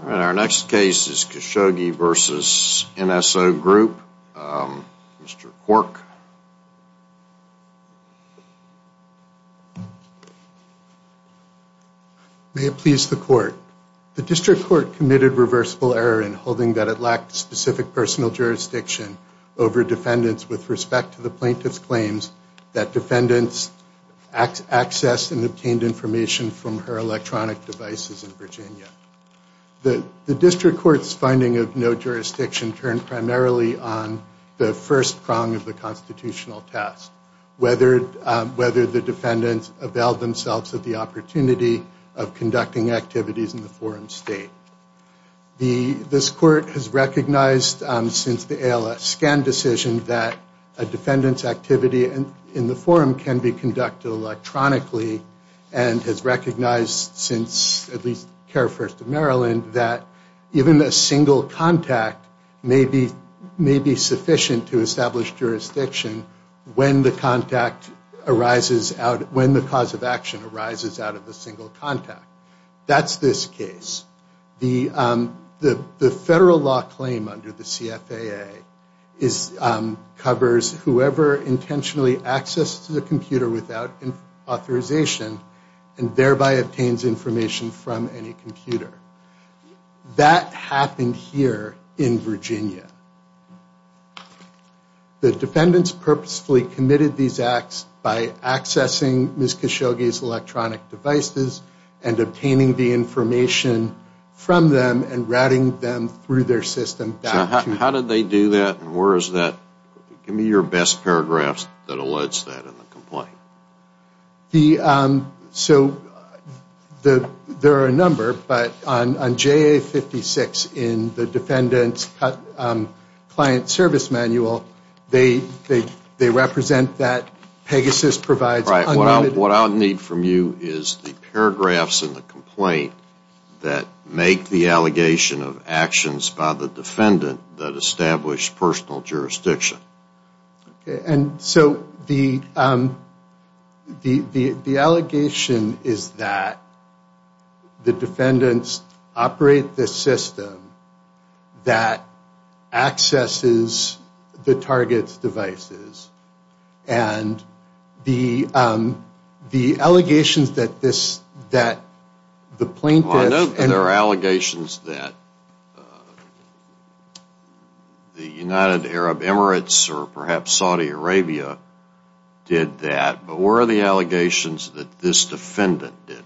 All right, our next case is Khashoggi v. NSO Group. Mr. Quirk. May it please the court. The district court committed reversible error in holding that it lacked specific personal jurisdiction over defendants with respect to the plaintiff's claims that defendants accessed and obtained information from her electronic devices in Virginia. The district court's finding of no jurisdiction turned primarily on the first prong of the constitutional test, whether the defendants availed themselves of the opportunity of conducting activities in the forum state. This court has recognized since the ALS scan decision that a defendant's activity in the forum can be conducted electronically and has recognized since at least KARE First of Maryland that even a single contact may be sufficient to establish jurisdiction when the cause of action arises out of a single contact. That's this case. The federal law claim under the CFAA covers whoever intentionally accesses a computer without authorization and thereby obtains information from any computer. That happened here in Virginia. The defendants purposefully committed these acts by accessing Ms. Khashoggi's electronic devices and obtaining the information from them and routing them through their system back to... So how did they do that and where is that? Give me your best paragraphs that alludes to that in the complaint. So there are a number, but on JA56 in the defendant's client service manual, they represent that Pegasus provides... What I'll need from you is the paragraphs in the complaint that make the allegation of actions by the defendant that establish personal jurisdiction. And so the allegation is that the defendants operate the system that accesses the target's devices and the allegations that the plaintiff... or perhaps Saudi Arabia did that, but where are the allegations that this defendant did it?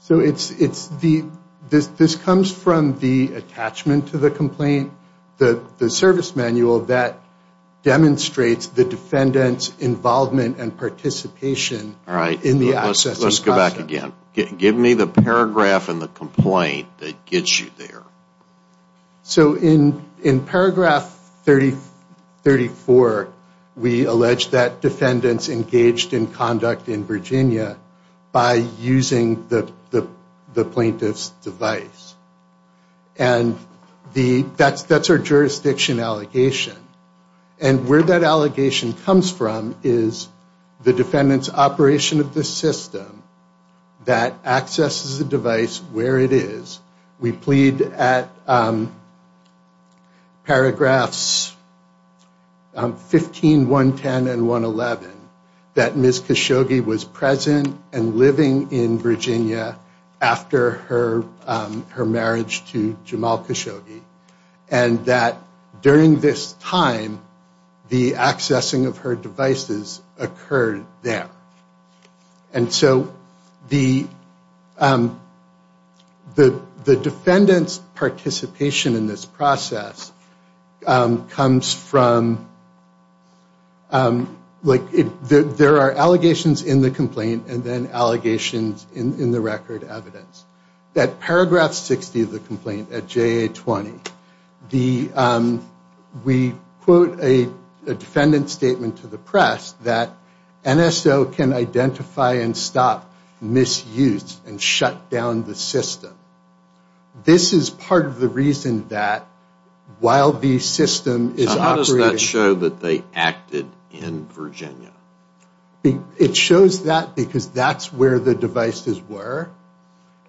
So this comes from the attachment to the complaint, the service manual that demonstrates the defendants involvement and participation in the accessing process. Let's go back again. Give me the paragraph in the complaint that gets you there. So in paragraph 34, we allege that defendants engaged in conduct in Virginia by using the plaintiff's device. And that's our jurisdiction allegation. And where that allegation comes from is the defendants operation of the system that accesses the device where it is. We plead at paragraphs 15, 110, and 111 that Ms. Khashoggi was present and living in Virginia after her marriage to Jamal Khashoggi. And that during this time, the accessing of her devices occurred there. And so the defendants participation in this process comes from... like there are allegations in the complaint and then allegations in the record evidence. That paragraph 60 of the complaint at JA 20, we quote a defendant statement to the press that NSO can identify and stop misuse and shut down the system. This is part of the reason that while the system is operating... So how does that show that they acted in Virginia? It shows that because that's where the devices were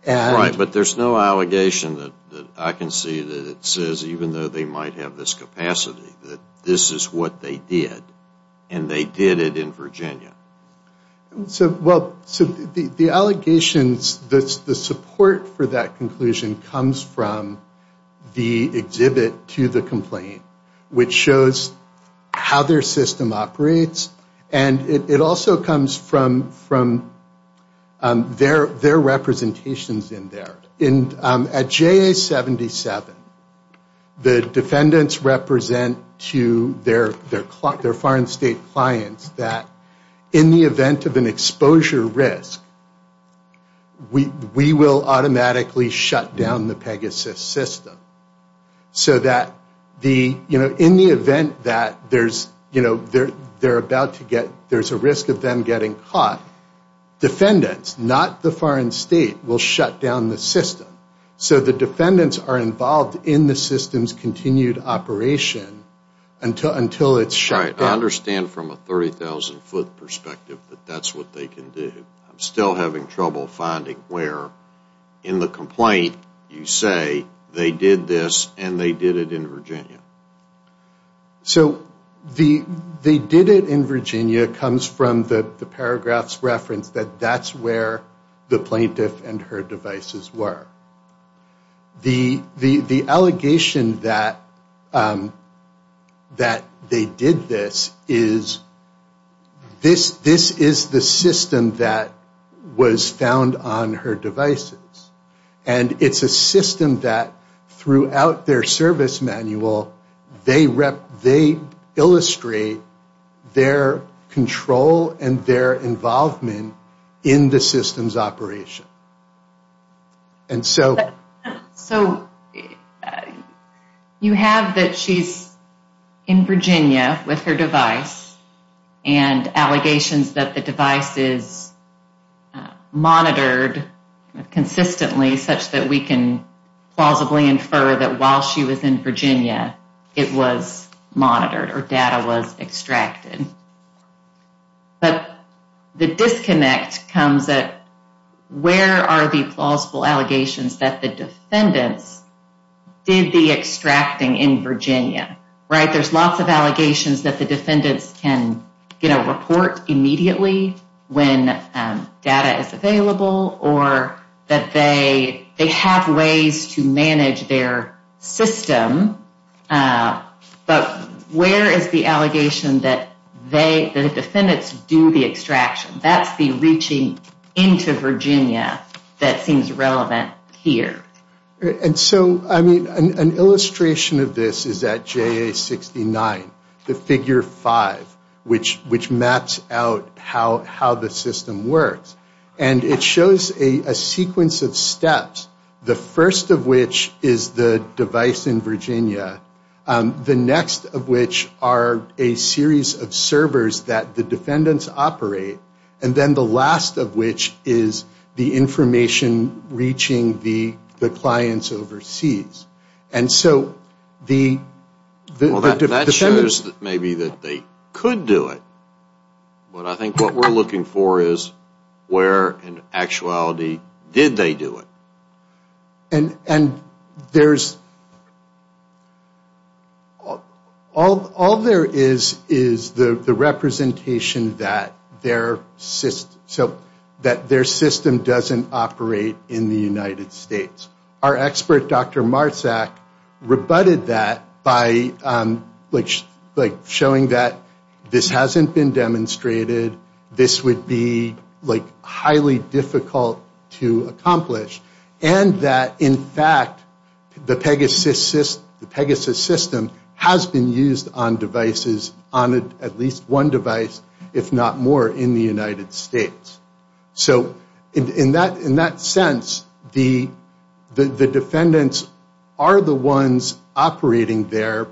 and... Right, but there's no allegation that I can see that it says, even though they might have this capacity, that this is what they did and they did it in Virginia. So the allegations, the support for that conclusion comes from the exhibit to the complaint, which shows how their system operates and it also comes from their representations in there. At JA 77, the defendants represent to their foreign state clients that in the event of an exposure risk, we will automatically shut down the Pegasus system. So that in the event that there's a risk of them getting caught, defendants, not the foreign state, will shut down the system. So the defendants are involved in the system's continued operation until it's shut down. Right, I understand from a 30,000 foot perspective that that's what they can do. I'm still having trouble finding where in the complaint you say they did this and they did it in Virginia. So they did it in Virginia comes from the paragraph's reference that that's where the plaintiff and her devices were. The allegation that they did this is this is the system that was found on her devices. And it's a system that throughout their service manual, they illustrate their control and their involvement in the system's operation. And so you have that she's in Virginia with her device and allegations that the device is monitored consistently such that we can plausibly infer that while she was in Virginia, it was monitored or data was extracted. But the disconnect comes at where are the plausible allegations that the defendants did the extracting in Virginia? Right, there's lots of allegations that the defendants can get a report immediately when data is available or that they have ways to manage their system. But where is the allegation that the defendants do the extraction? That's the reaching into Virginia that seems relevant here. And so, I mean, an illustration of this is at JA69, the figure five, which maps out how the system works. And it shows a sequence of steps, the first of which is the device in Virginia, the next of which are a series of servers that the defendants operate, and then the last of which is the information reaching the clients overseas. And so the defendants... Well, that shows maybe that they could do it. But I think what we're looking for is where in actuality did they do it? And there's, all there is is the representation that their system doesn't operate in the United States. Our expert, Dr. Marsak, rebutted that by showing that this hasn't been demonstrated, this would be highly difficult to accomplish, and that in fact the Pegasus system has been used on devices, on at least one device, if not more, in the United States. So in that sense, the defendants are the ones operating there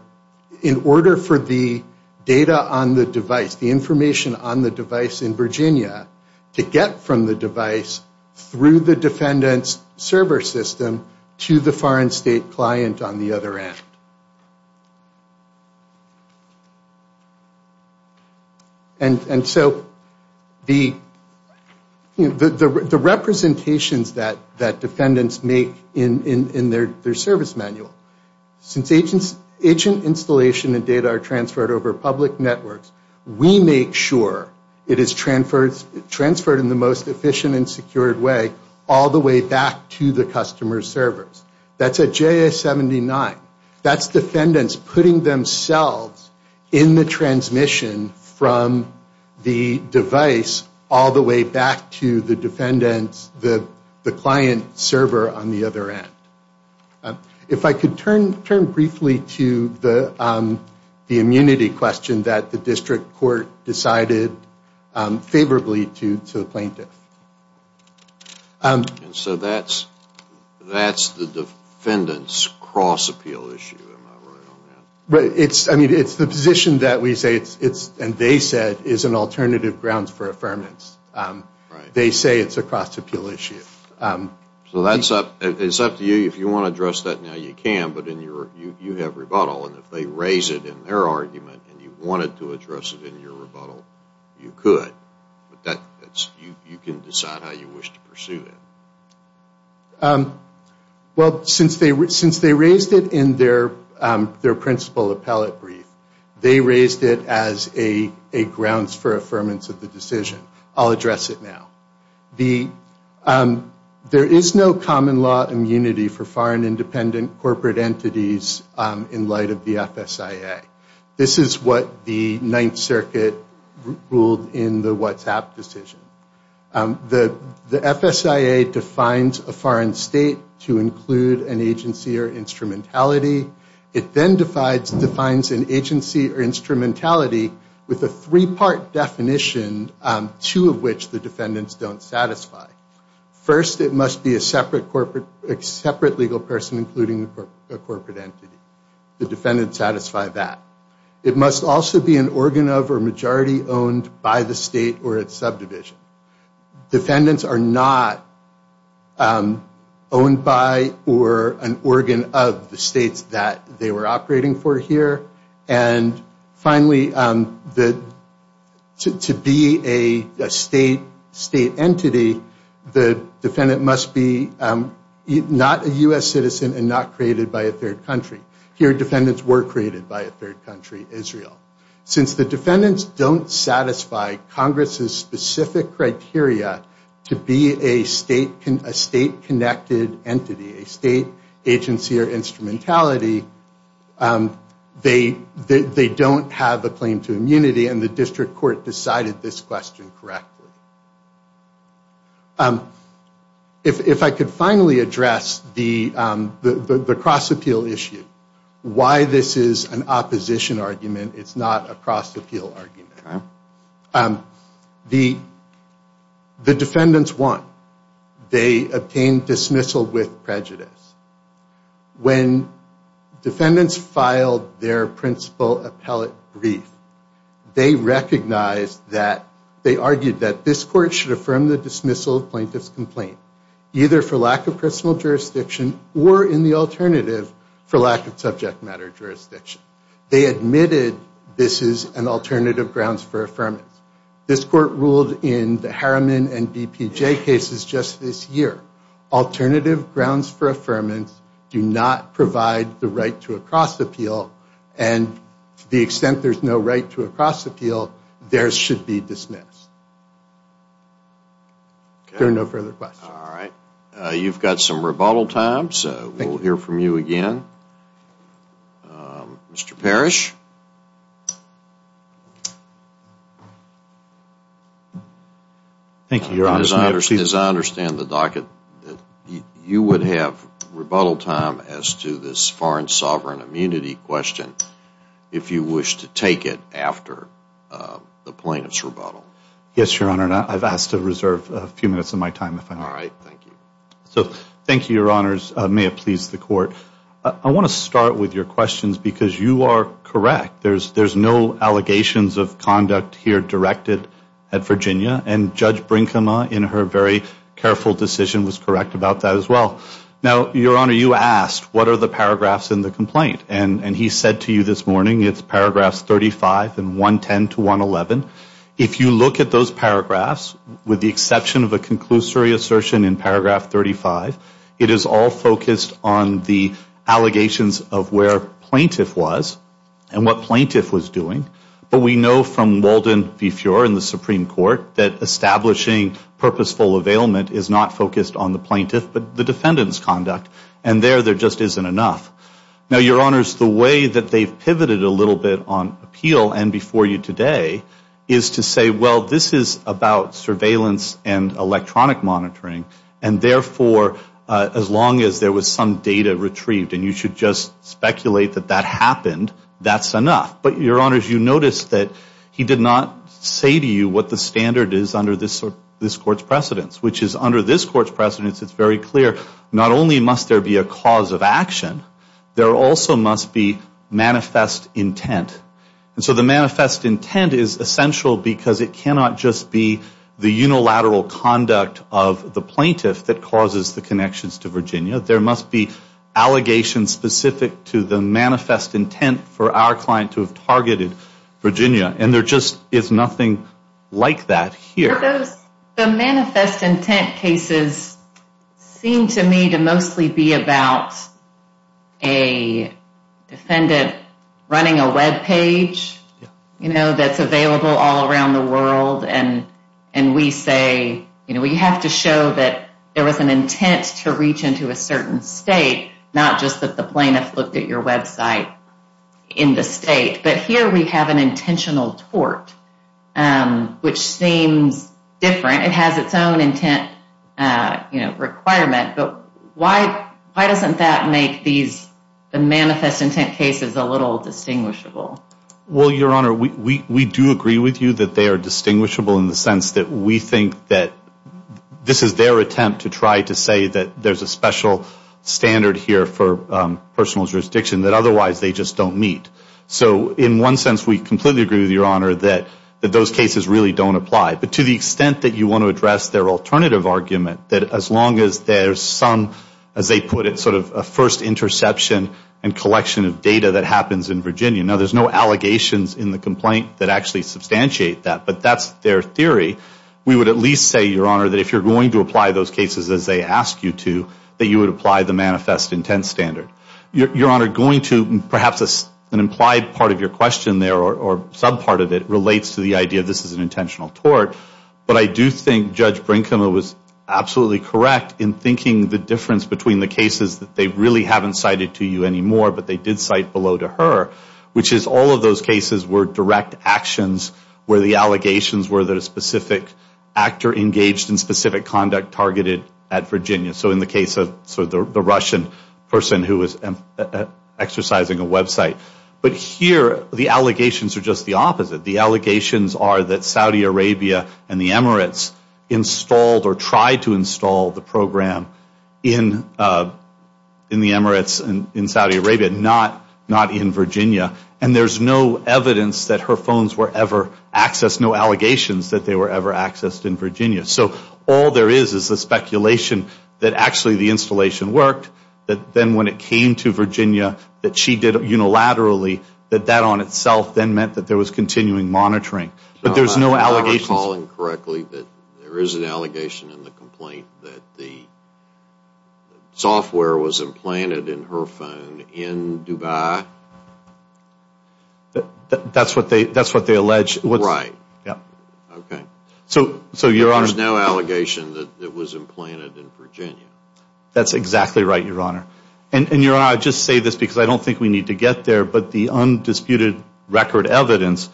in order for the data on the device, the information on the device in Virginia, to get from the device through the defendant's server system to the foreign state client on the other end. And so the representations that defendants make in their service manual, since agent installation and data are transferred over public networks, we make sure it is transferred in the most efficient and secured way, all the way back to the customer's servers. That's a JA-79. That's defendants putting themselves in the transmission from the device all the way back to the defendant's, the client's server on the other end. If I could turn briefly to the immunity question that the district court decided favorably to the plaintiff. And so that's the defendant's cross-appeal issue, am I right on that? It's the position that we say, and they said, is an alternative grounds for affirmance. They say it's a cross-appeal issue. So it's up to you. If you want to address that now, you can, but you have rebuttal, and if they raise it in their argument and you wanted to address it in your rebuttal, you could. You can decide how you wish to pursue it. Well, since they raised it in their principal appellate brief, they raised it as a grounds for affirmance of the decision. I'll address it now. There is no common law immunity for foreign independent corporate entities in light of the FSIA. This is what the Ninth Circuit ruled in the WhatsApp decision. The FSIA defines a foreign state to include an agency or instrumentality. It then defines an agency or instrumentality with a three-part definition, two of which the defendants don't satisfy. First, it must be a separate legal person including a corporate entity. The defendants satisfy that. It must also be an organ of or majority owned by the state or its subdivision. Defendants are not owned by or an organ of the states that they were operating for here. Finally, to be a state entity, the defendant must be not a U.S. citizen and not created by a third country. Here, defendants were created by a third country, Israel. Since the defendants don't satisfy Congress's specific criteria to be a state-connected entity, a state agency or instrumentality, they don't have a claim to immunity and the district court decided this question correctly. If I could finally address the cross-appeal issue, why this is an opposition argument, it's not a cross-appeal argument. The defendants won. They obtained dismissal with prejudice. When defendants filed their principal appellate brief, they recognized that, they argued that this court should affirm the dismissal of plaintiff's complaint, either for lack of personal jurisdiction or in the alternative for lack of subject matter jurisdiction. They admitted this is an alternative grounds for affirmance. This court ruled in the Harriman and DPJ cases just this year. Alternative grounds for affirmance do not provide the right to a cross-appeal and to the extent there's no right to a cross-appeal, theirs should be dismissed. There are no further questions. All right. You've got some rebuttal time, so we'll hear from you again. Mr. Parrish. Thank you, Your Honor. As I understand the docket, you would have rebuttal time as to this foreign sovereign immunity question if you wish to take it after the plaintiff's rebuttal. Yes, Your Honor. I've asked to reserve a few minutes of my time if I may. All right. Thank you. So, thank you, Your Honors. May it please the court. I want to start with your questions because you are correct. There's no allegations of conduct here directed at Virginia and Judge Brinkema in her very careful decision was correct about that as well. Now, Your Honor, you asked what are the paragraphs in the complaint and he said to you this morning it's paragraphs 35 and 110 to 111. If you look at those paragraphs, with the exception of a conclusory assertion in paragraph 35, it is all focused on the allegations of where plaintiff was and what plaintiff was doing. But we know from Walden v. Fuhrer in the Supreme Court that establishing purposeful availment is not focused on the plaintiff but the defendant's conduct. And there, there just isn't enough. Now, Your Honors, the way that they've pivoted a little bit on appeal and before you today is to say, well, this is about surveillance and electronic monitoring and, therefore, as long as there was some data retrieved and you should just speculate that that happened, that's enough. But, Your Honors, you notice that he did not say to you what the standard is under this Court's precedence, which is under this Court's precedence it's very clear not only must there be a cause of action, there also must be manifest intent. And so the manifest intent is essential because it cannot just be the unilateral conduct of the plaintiff that causes the connections to Virginia. There must be allegations specific to the manifest intent for our client to have targeted Virginia. And there just is nothing like that here. The manifest intent cases seem to me to mostly be about a defendant running a web page that's available all around the world and we say we have to show that there was an intent to reach into a certain state, not just that the plaintiff looked at your website in the state. But here we have an intentional tort, which seems different. It has its own intent requirement. But why doesn't that make these manifest intent cases a little distinguishable? Well, Your Honor, we do agree with you that they are distinguishable in the sense that we think that this is their attempt to try to say that there's a special standard here for personal jurisdiction that otherwise they just don't meet. So in one sense we completely agree with Your Honor that those cases really don't apply. But to the extent that you want to address their alternative argument, that as long as there's some, as they put it, sort of a first interception and collection of data that happens in Virginia. Now, there's no allegations in the complaint that actually substantiate that, but that's their theory. We would at least say, Your Honor, that if you're going to apply those cases as they ask you to, that you would apply the manifest intent standard. Your Honor, going to perhaps an implied part of your question there, or some part of it, relates to the idea that this is an intentional tort. But I do think Judge Brinkman was absolutely correct in thinking the difference between the cases that they really haven't cited to you anymore, but they did cite below to her, which is all of those cases were direct actions where the allegations were that a specific actor engaged in specific conduct targeted at Virginia. So in the case of the Russian person who was exercising a website. But here, the allegations are just the opposite. The allegations are that Saudi Arabia and the Emirates installed or tried to install the program in the Emirates and in Saudi Arabia, not in Virginia. And there's no evidence that her phones were ever accessed, no allegations that they were ever accessed in Virginia. So all there is is the speculation that actually the installation worked, that then when it came to Virginia that she did it unilaterally, that that on itself then meant that there was continuing monitoring. But there's no allegations. If I'm recalling correctly, there is an allegation in the complaint that the software was implanted in her phone in Dubai? That's what they allege. Right. Yep. Okay. So, Your Honor. There's no allegation that it was implanted in Virginia. That's exactly right, Your Honor. And, Your Honor, I just say this because I don't think we need to get there, but the undisputed record evidence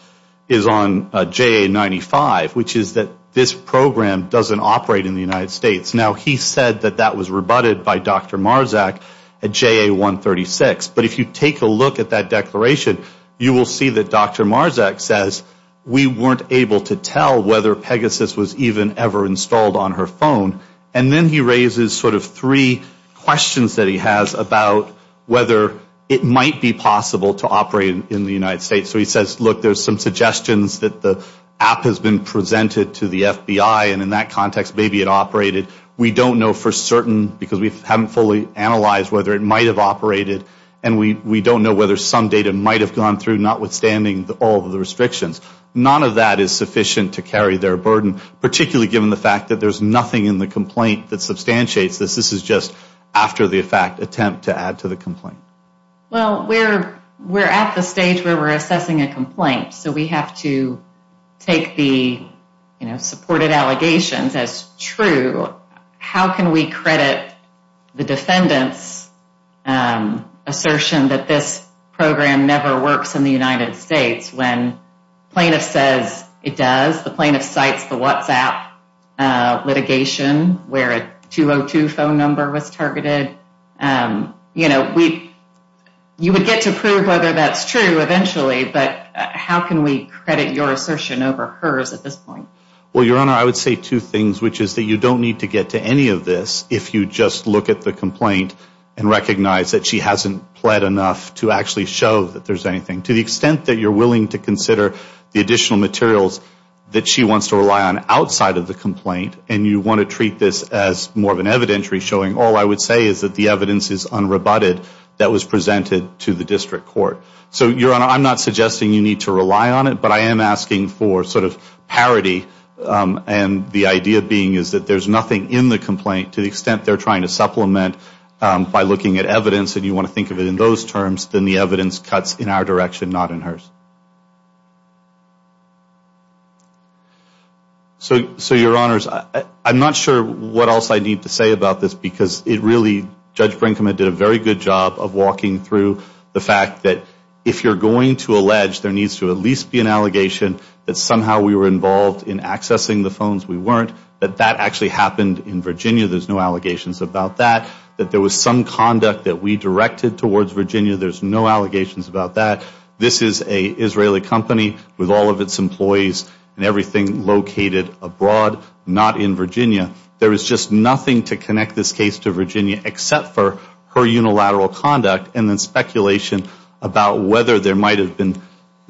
is on JA-95, which is that this program doesn't operate in the United States. Now, he said that that was rebutted by Dr. Marzak at JA-136. But if you take a look at that declaration, you will see that Dr. Marzak says, we weren't able to tell whether Pegasus was even ever installed on her phone. And then he raises sort of three questions that he has about whether it might be possible to operate in the United States. So he says, look, there's some suggestions that the app has been presented to the FBI, and in that context maybe it operated. We don't know for certain because we haven't fully analyzed whether it might have operated, and we don't know whether some data might have gone through, notwithstanding all of the restrictions. None of that is sufficient to carry their burden, particularly given the fact that there's nothing in the complaint that substantiates this. This is just after the fact attempt to add to the complaint. Well, we're at the stage where we're assessing a complaint, so we have to take the supported allegations as true. How can we credit the defendant's assertion that this program never works in the United States when plaintiff says it does, the plaintiff cites the WhatsApp litigation where a 202 phone number was targeted? You know, you would get to prove whether that's true eventually, but how can we credit your assertion over hers at this point? Well, Your Honor, I would say two things, which is that you don't need to get to any of this if you just look at the complaint and recognize that she hasn't pled enough to actually show that there's anything. To the extent that you're willing to consider the additional materials that she wants to rely on outside of the complaint, and you want to treat this as more of an evidentiary showing, all I would say is that the evidence is unrebutted that was presented to the district court. So, Your Honor, I'm not suggesting you need to rely on it, but I am asking for sort of parity and the idea being is that there's nothing in the complaint to the extent they're trying to supplement by looking at evidence and you want to think of it in those terms, then the evidence cuts in our direction, not in hers. So, Your Honors, I'm not sure what else I need to say about this because it really, Judge Brinkman did a very good job of walking through the fact that if you're going to allege there needs to at least be an allegation that somehow we were involved in accessing the phones we weren't, that that actually happened in Virginia. There's no allegations about that. That there was some conduct that we directed towards Virginia. There's no allegations about that. This is an Israeli company with all of its employees and everything located abroad, not in Virginia. There is just nothing to connect this case to Virginia except for her unilateral conduct and then speculation about whether there might have been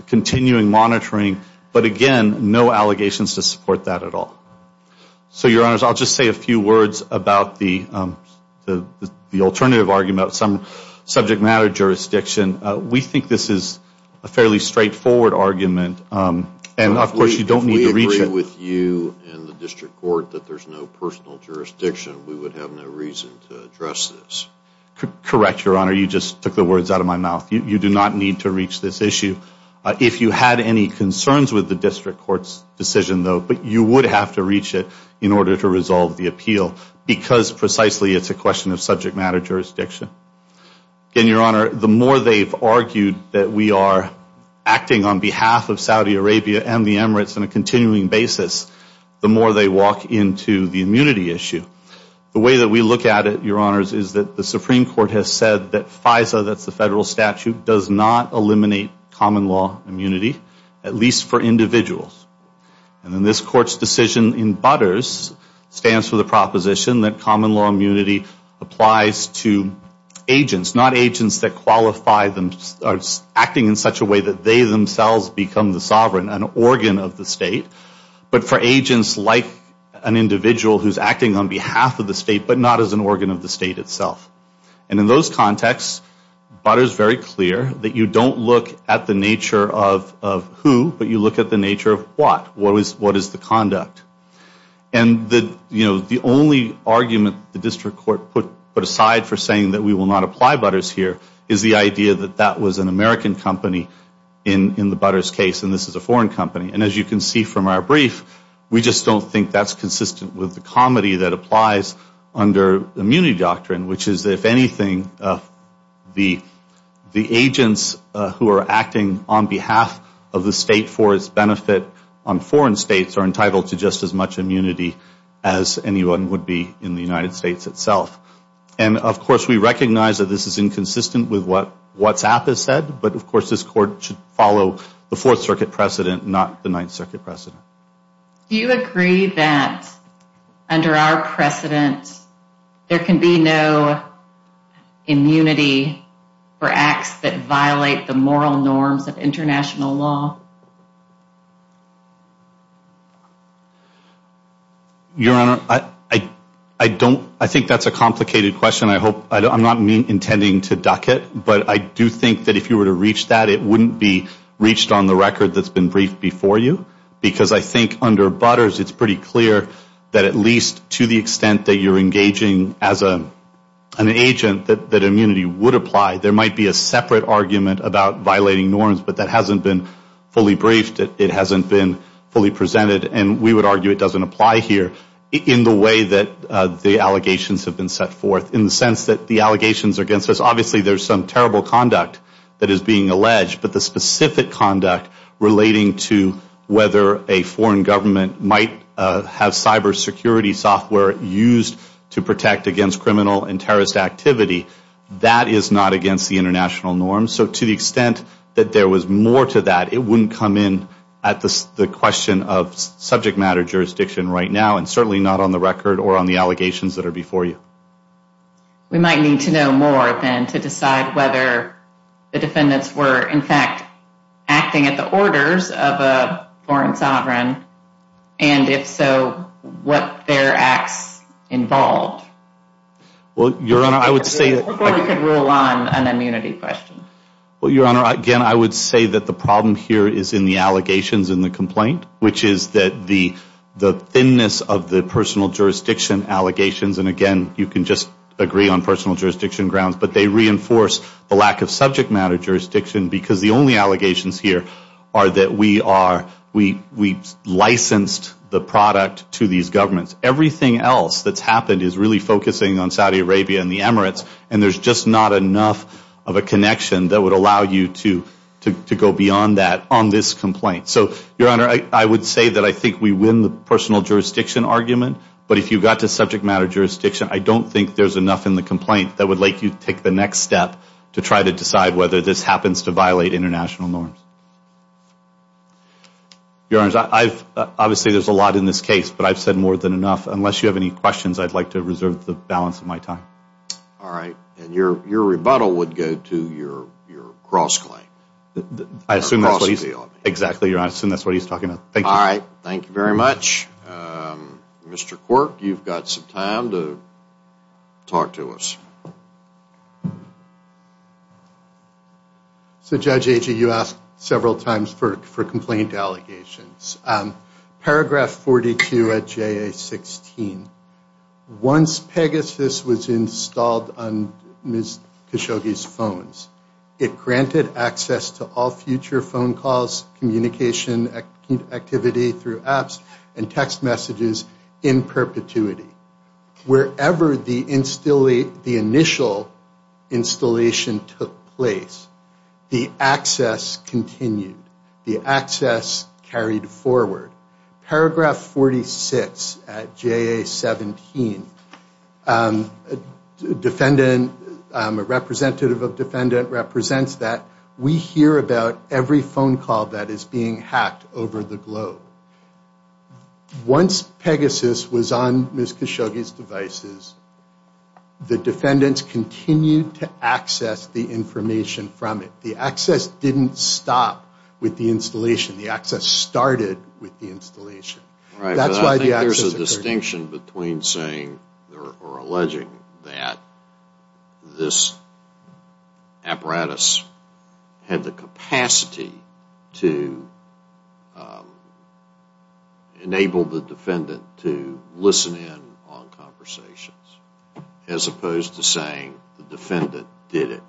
continuing monitoring, but again, no allegations to support that at all. So, Your Honors, I'll just say a few words about the alternative argument, some subject matter jurisdiction. We think this is a fairly straightforward argument and, of course, you don't need to reach it. If we agree with you and the District Court that there's no personal jurisdiction, we would have no reason to address this. Correct, Your Honor, you just took the words out of my mouth. You do not need to reach this issue. If you had any concerns with the District Court's decision, though, you would have to reach it in order to resolve the appeal because precisely it's a question of subject matter jurisdiction. Again, Your Honor, the more they've argued that we are acting on behalf of Saudi Arabia and the Emirates on a continuing basis, the more they walk into the immunity issue. The way that we look at it, Your Honors, is that the Supreme Court has said that FISA, that's the federal statute, does not eliminate common law immunity, at least for individuals. And then this Court's decision in Butters stands for the proposition that common law immunity applies to agents, not agents that qualify them acting in such a way that they themselves become the sovereign, an organ of the state, but for agents like an individual who's acting on behalf of the state but not as an organ of the state itself. And in those contexts, Butters is very clear that you don't look at the nature of who, but you look at the nature of what, what is the conduct. And the only argument the District Court put aside for saying that we will not apply Butters here is the idea that that was an American company in the Butters case and this is a foreign company. And as you can see from our brief, we just don't think that's consistent with the comedy that applies under immunity doctrine, which is that if anything, the agents who are acting on behalf of the state for its benefit on foreign states are entitled to just as much immunity as anyone would be in the United States itself. And, of course, we recognize that this is inconsistent with what WhatsApp has said, but, of course, this court should follow the Fourth Circuit precedent, not the Ninth Circuit precedent. Do you agree that under our precedent there can be no immunity for acts that violate the moral norms of international law? Your Honor, I think that's a complicated question. I'm not intending to duck it, but I do think that if you were to reach that, it wouldn't be reached on the record that's been briefed before you because I think under Butters it's pretty clear that at least to the extent that you're engaging as an agent that immunity would apply. There might be a separate argument about violating norms, but that hasn't been fully briefed. It hasn't been fully presented. And we would argue it doesn't apply here in the way that the allegations have been set forth in the sense that the allegations against us, obviously there's some terrible conduct that is being alleged, but the specific conduct relating to whether a foreign government might have cybersecurity software used to protect against criminal and terrorist activity, that is not against the international norms. So to the extent that there was more to that, it wouldn't come in at the question of subject matter jurisdiction right now and certainly not on the record or on the allegations that are before you. We might need to know more than to decide whether the defendants were, in fact, acting at the orders of a foreign sovereign, and if so, what their acts involved. Well, Your Honor, I would say that... Before we could rule on an immunity question. Well, Your Honor, again, I would say that the problem here is in the allegations and the complaint, which is that the thinness of the personal jurisdiction allegations, and again, you can just agree on personal jurisdiction grounds, but they reinforce the lack of subject matter jurisdiction because the only allegations here are that we licensed the product to these governments. Everything else that's happened is really focusing on Saudi Arabia and the Emirates, and there's just not enough of a connection that would allow you to go beyond that on this complaint. So, Your Honor, I would say that I think we win the personal jurisdiction argument, but if you got to subject matter jurisdiction, I don't think there's enough in the complaint that would let you take the next step to try to decide whether this happens to violate international norms. Your Honor, obviously there's a lot in this case, but I've said more than enough. Unless you have any questions, I'd like to reserve the balance of my time. All right, and your rebuttal would go to your cross-claim. I assume that's what he's... Exactly, Your Honor, I assume that's what he's talking about. All right, thank you very much. Mr. Quirk, you've got some time to talk to us. So, Judge Agee, you asked several times for complaint allegations. Paragraph 42 at JA-16, once Pegasus was installed on Ms. Khashoggi's phones, it granted access to all future phone calls, communication activity through apps, and text messages in perpetuity. Wherever the initial installation took place, the access continued. The access carried forward. Paragraph 46 at JA-17, a representative of defendant represents that we hear about every phone call that is being hacked over the globe. Once Pegasus was on Ms. Khashoggi's devices, the defendants continued to access the information from it. The access didn't stop with the installation. The access started with the installation. Right, but I think there's a distinction between saying or alleging that this apparatus had the capacity to enable the defendant to listen in on conversations, as opposed to saying the defendant did it.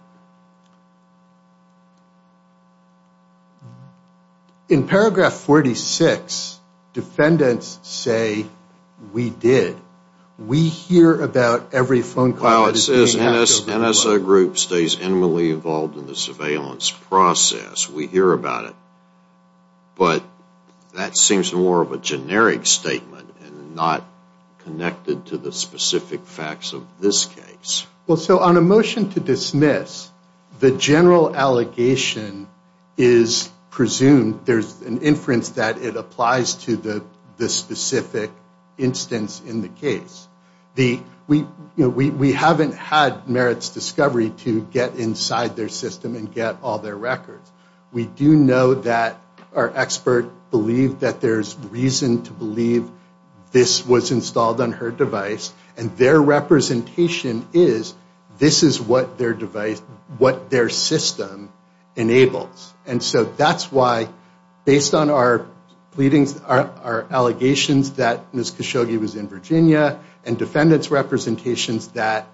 In paragraph 46, defendants say we did. We hear about every phone call that is being hacked over the globe. Well, it says NSO group stays intimately involved in the surveillance process. We hear about it. But that seems more of a generic statement and not connected to the specific facts of this case. Well, so on a motion to dismiss, the general allegation is presumed, there's an inference that it applies to the specific instance in the case. We haven't had merits discovery to get inside their system and get all their records. We do know that our expert believed that there's reason to believe this was installed on her device. And their representation is this is what their device, what their system enables. And so that's why, based on our allegations that Ms. Khashoggi was in Virginia, and defendants' representations that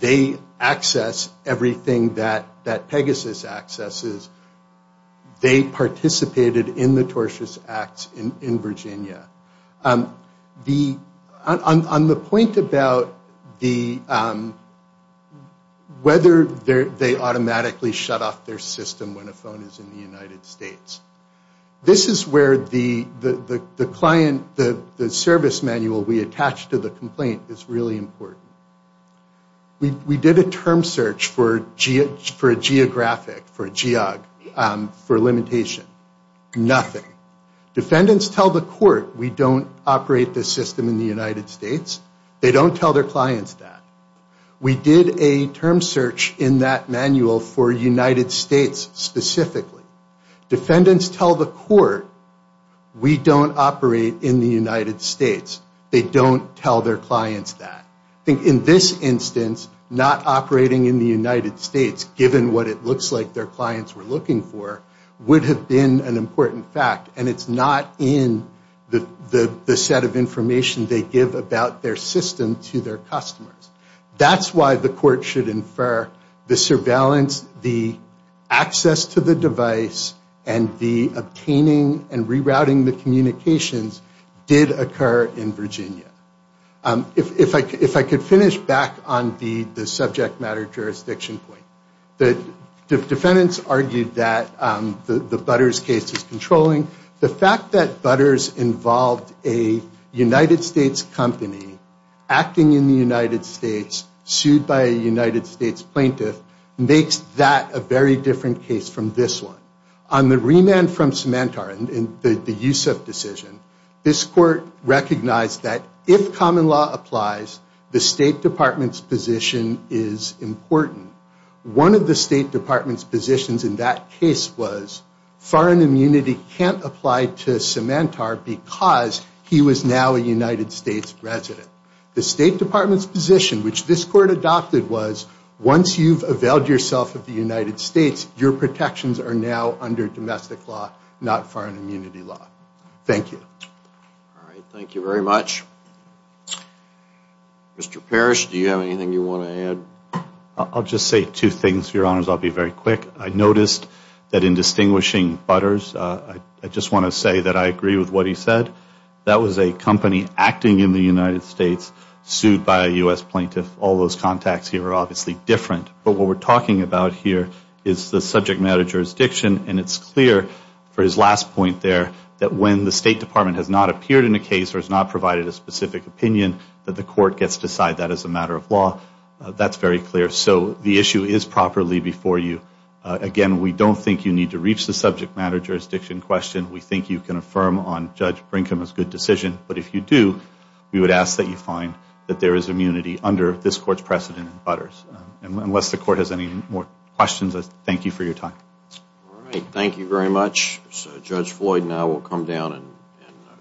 they access everything that Pegasus accesses, they participated in the tortious acts in Virginia. On the point about whether they automatically shut off their system when a phone is in the United States, this is where the client, the service manual we attach to the complaint is really important. We did a term search for a geographic, for a geog, for a limitation. Nothing. Defendants tell the court we don't operate this system in the United States. They don't tell their clients that. We did a term search in that manual for United States specifically. Defendants tell the court we don't operate in the United States. They don't tell their clients that. I think in this instance, not operating in the United States, given what it looks like their clients were looking for, would have been an important fact. And it's not in the set of information they give about their system to their customers. That's why the court should infer the surveillance, the access to the device, and the obtaining and rerouting the communications did occur in Virginia. If I could finish back on the subject matter jurisdiction point. The defendants argued that the Butters case is controlling. The fact that Butters involved a United States company acting in the United States, sued by a United States plaintiff, makes that a very different case from this one. On the remand from Symantar and the Yusup decision, this court recognized that if common law applies, the State Department's position is important. One of the State Department's positions in that case was, foreign immunity can't apply to Symantar because he was now a United States resident. The State Department's position, which this court adopted was, once you've availed yourself of the United States, your protections are now under domestic law, not foreign immunity law. Thank you. All right, thank you very much. Mr. Parrish, do you have anything you want to add? I'll just say two things, Your Honors. I'll be very quick. I noticed that in distinguishing Butters, I just want to say that I agree with what he said. That was a company acting in the United States, sued by a U.S. plaintiff. All those contacts here are obviously different, but what we're talking about here is the subject matter jurisdiction, and it's clear for his last point there that when the State Department has not appeared in a case or has not provided a specific opinion, that the court gets to decide that as a matter of law. That's very clear. So the issue is properly before you. Again, we don't think you need to reach the subject matter jurisdiction question. We think you can affirm on Judge Brinkham's good decision. But if you do, we would ask that you find that there is immunity under this court's precedent in Butters. Unless the court has any more questions, I thank you for your time. All right, thank you very much. Judge Floyd and I will come down and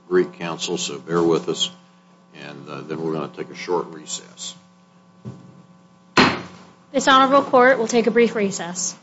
greet counsel, so bear with us. And then we're going to take a short recess. This honorable court will take a brief recess.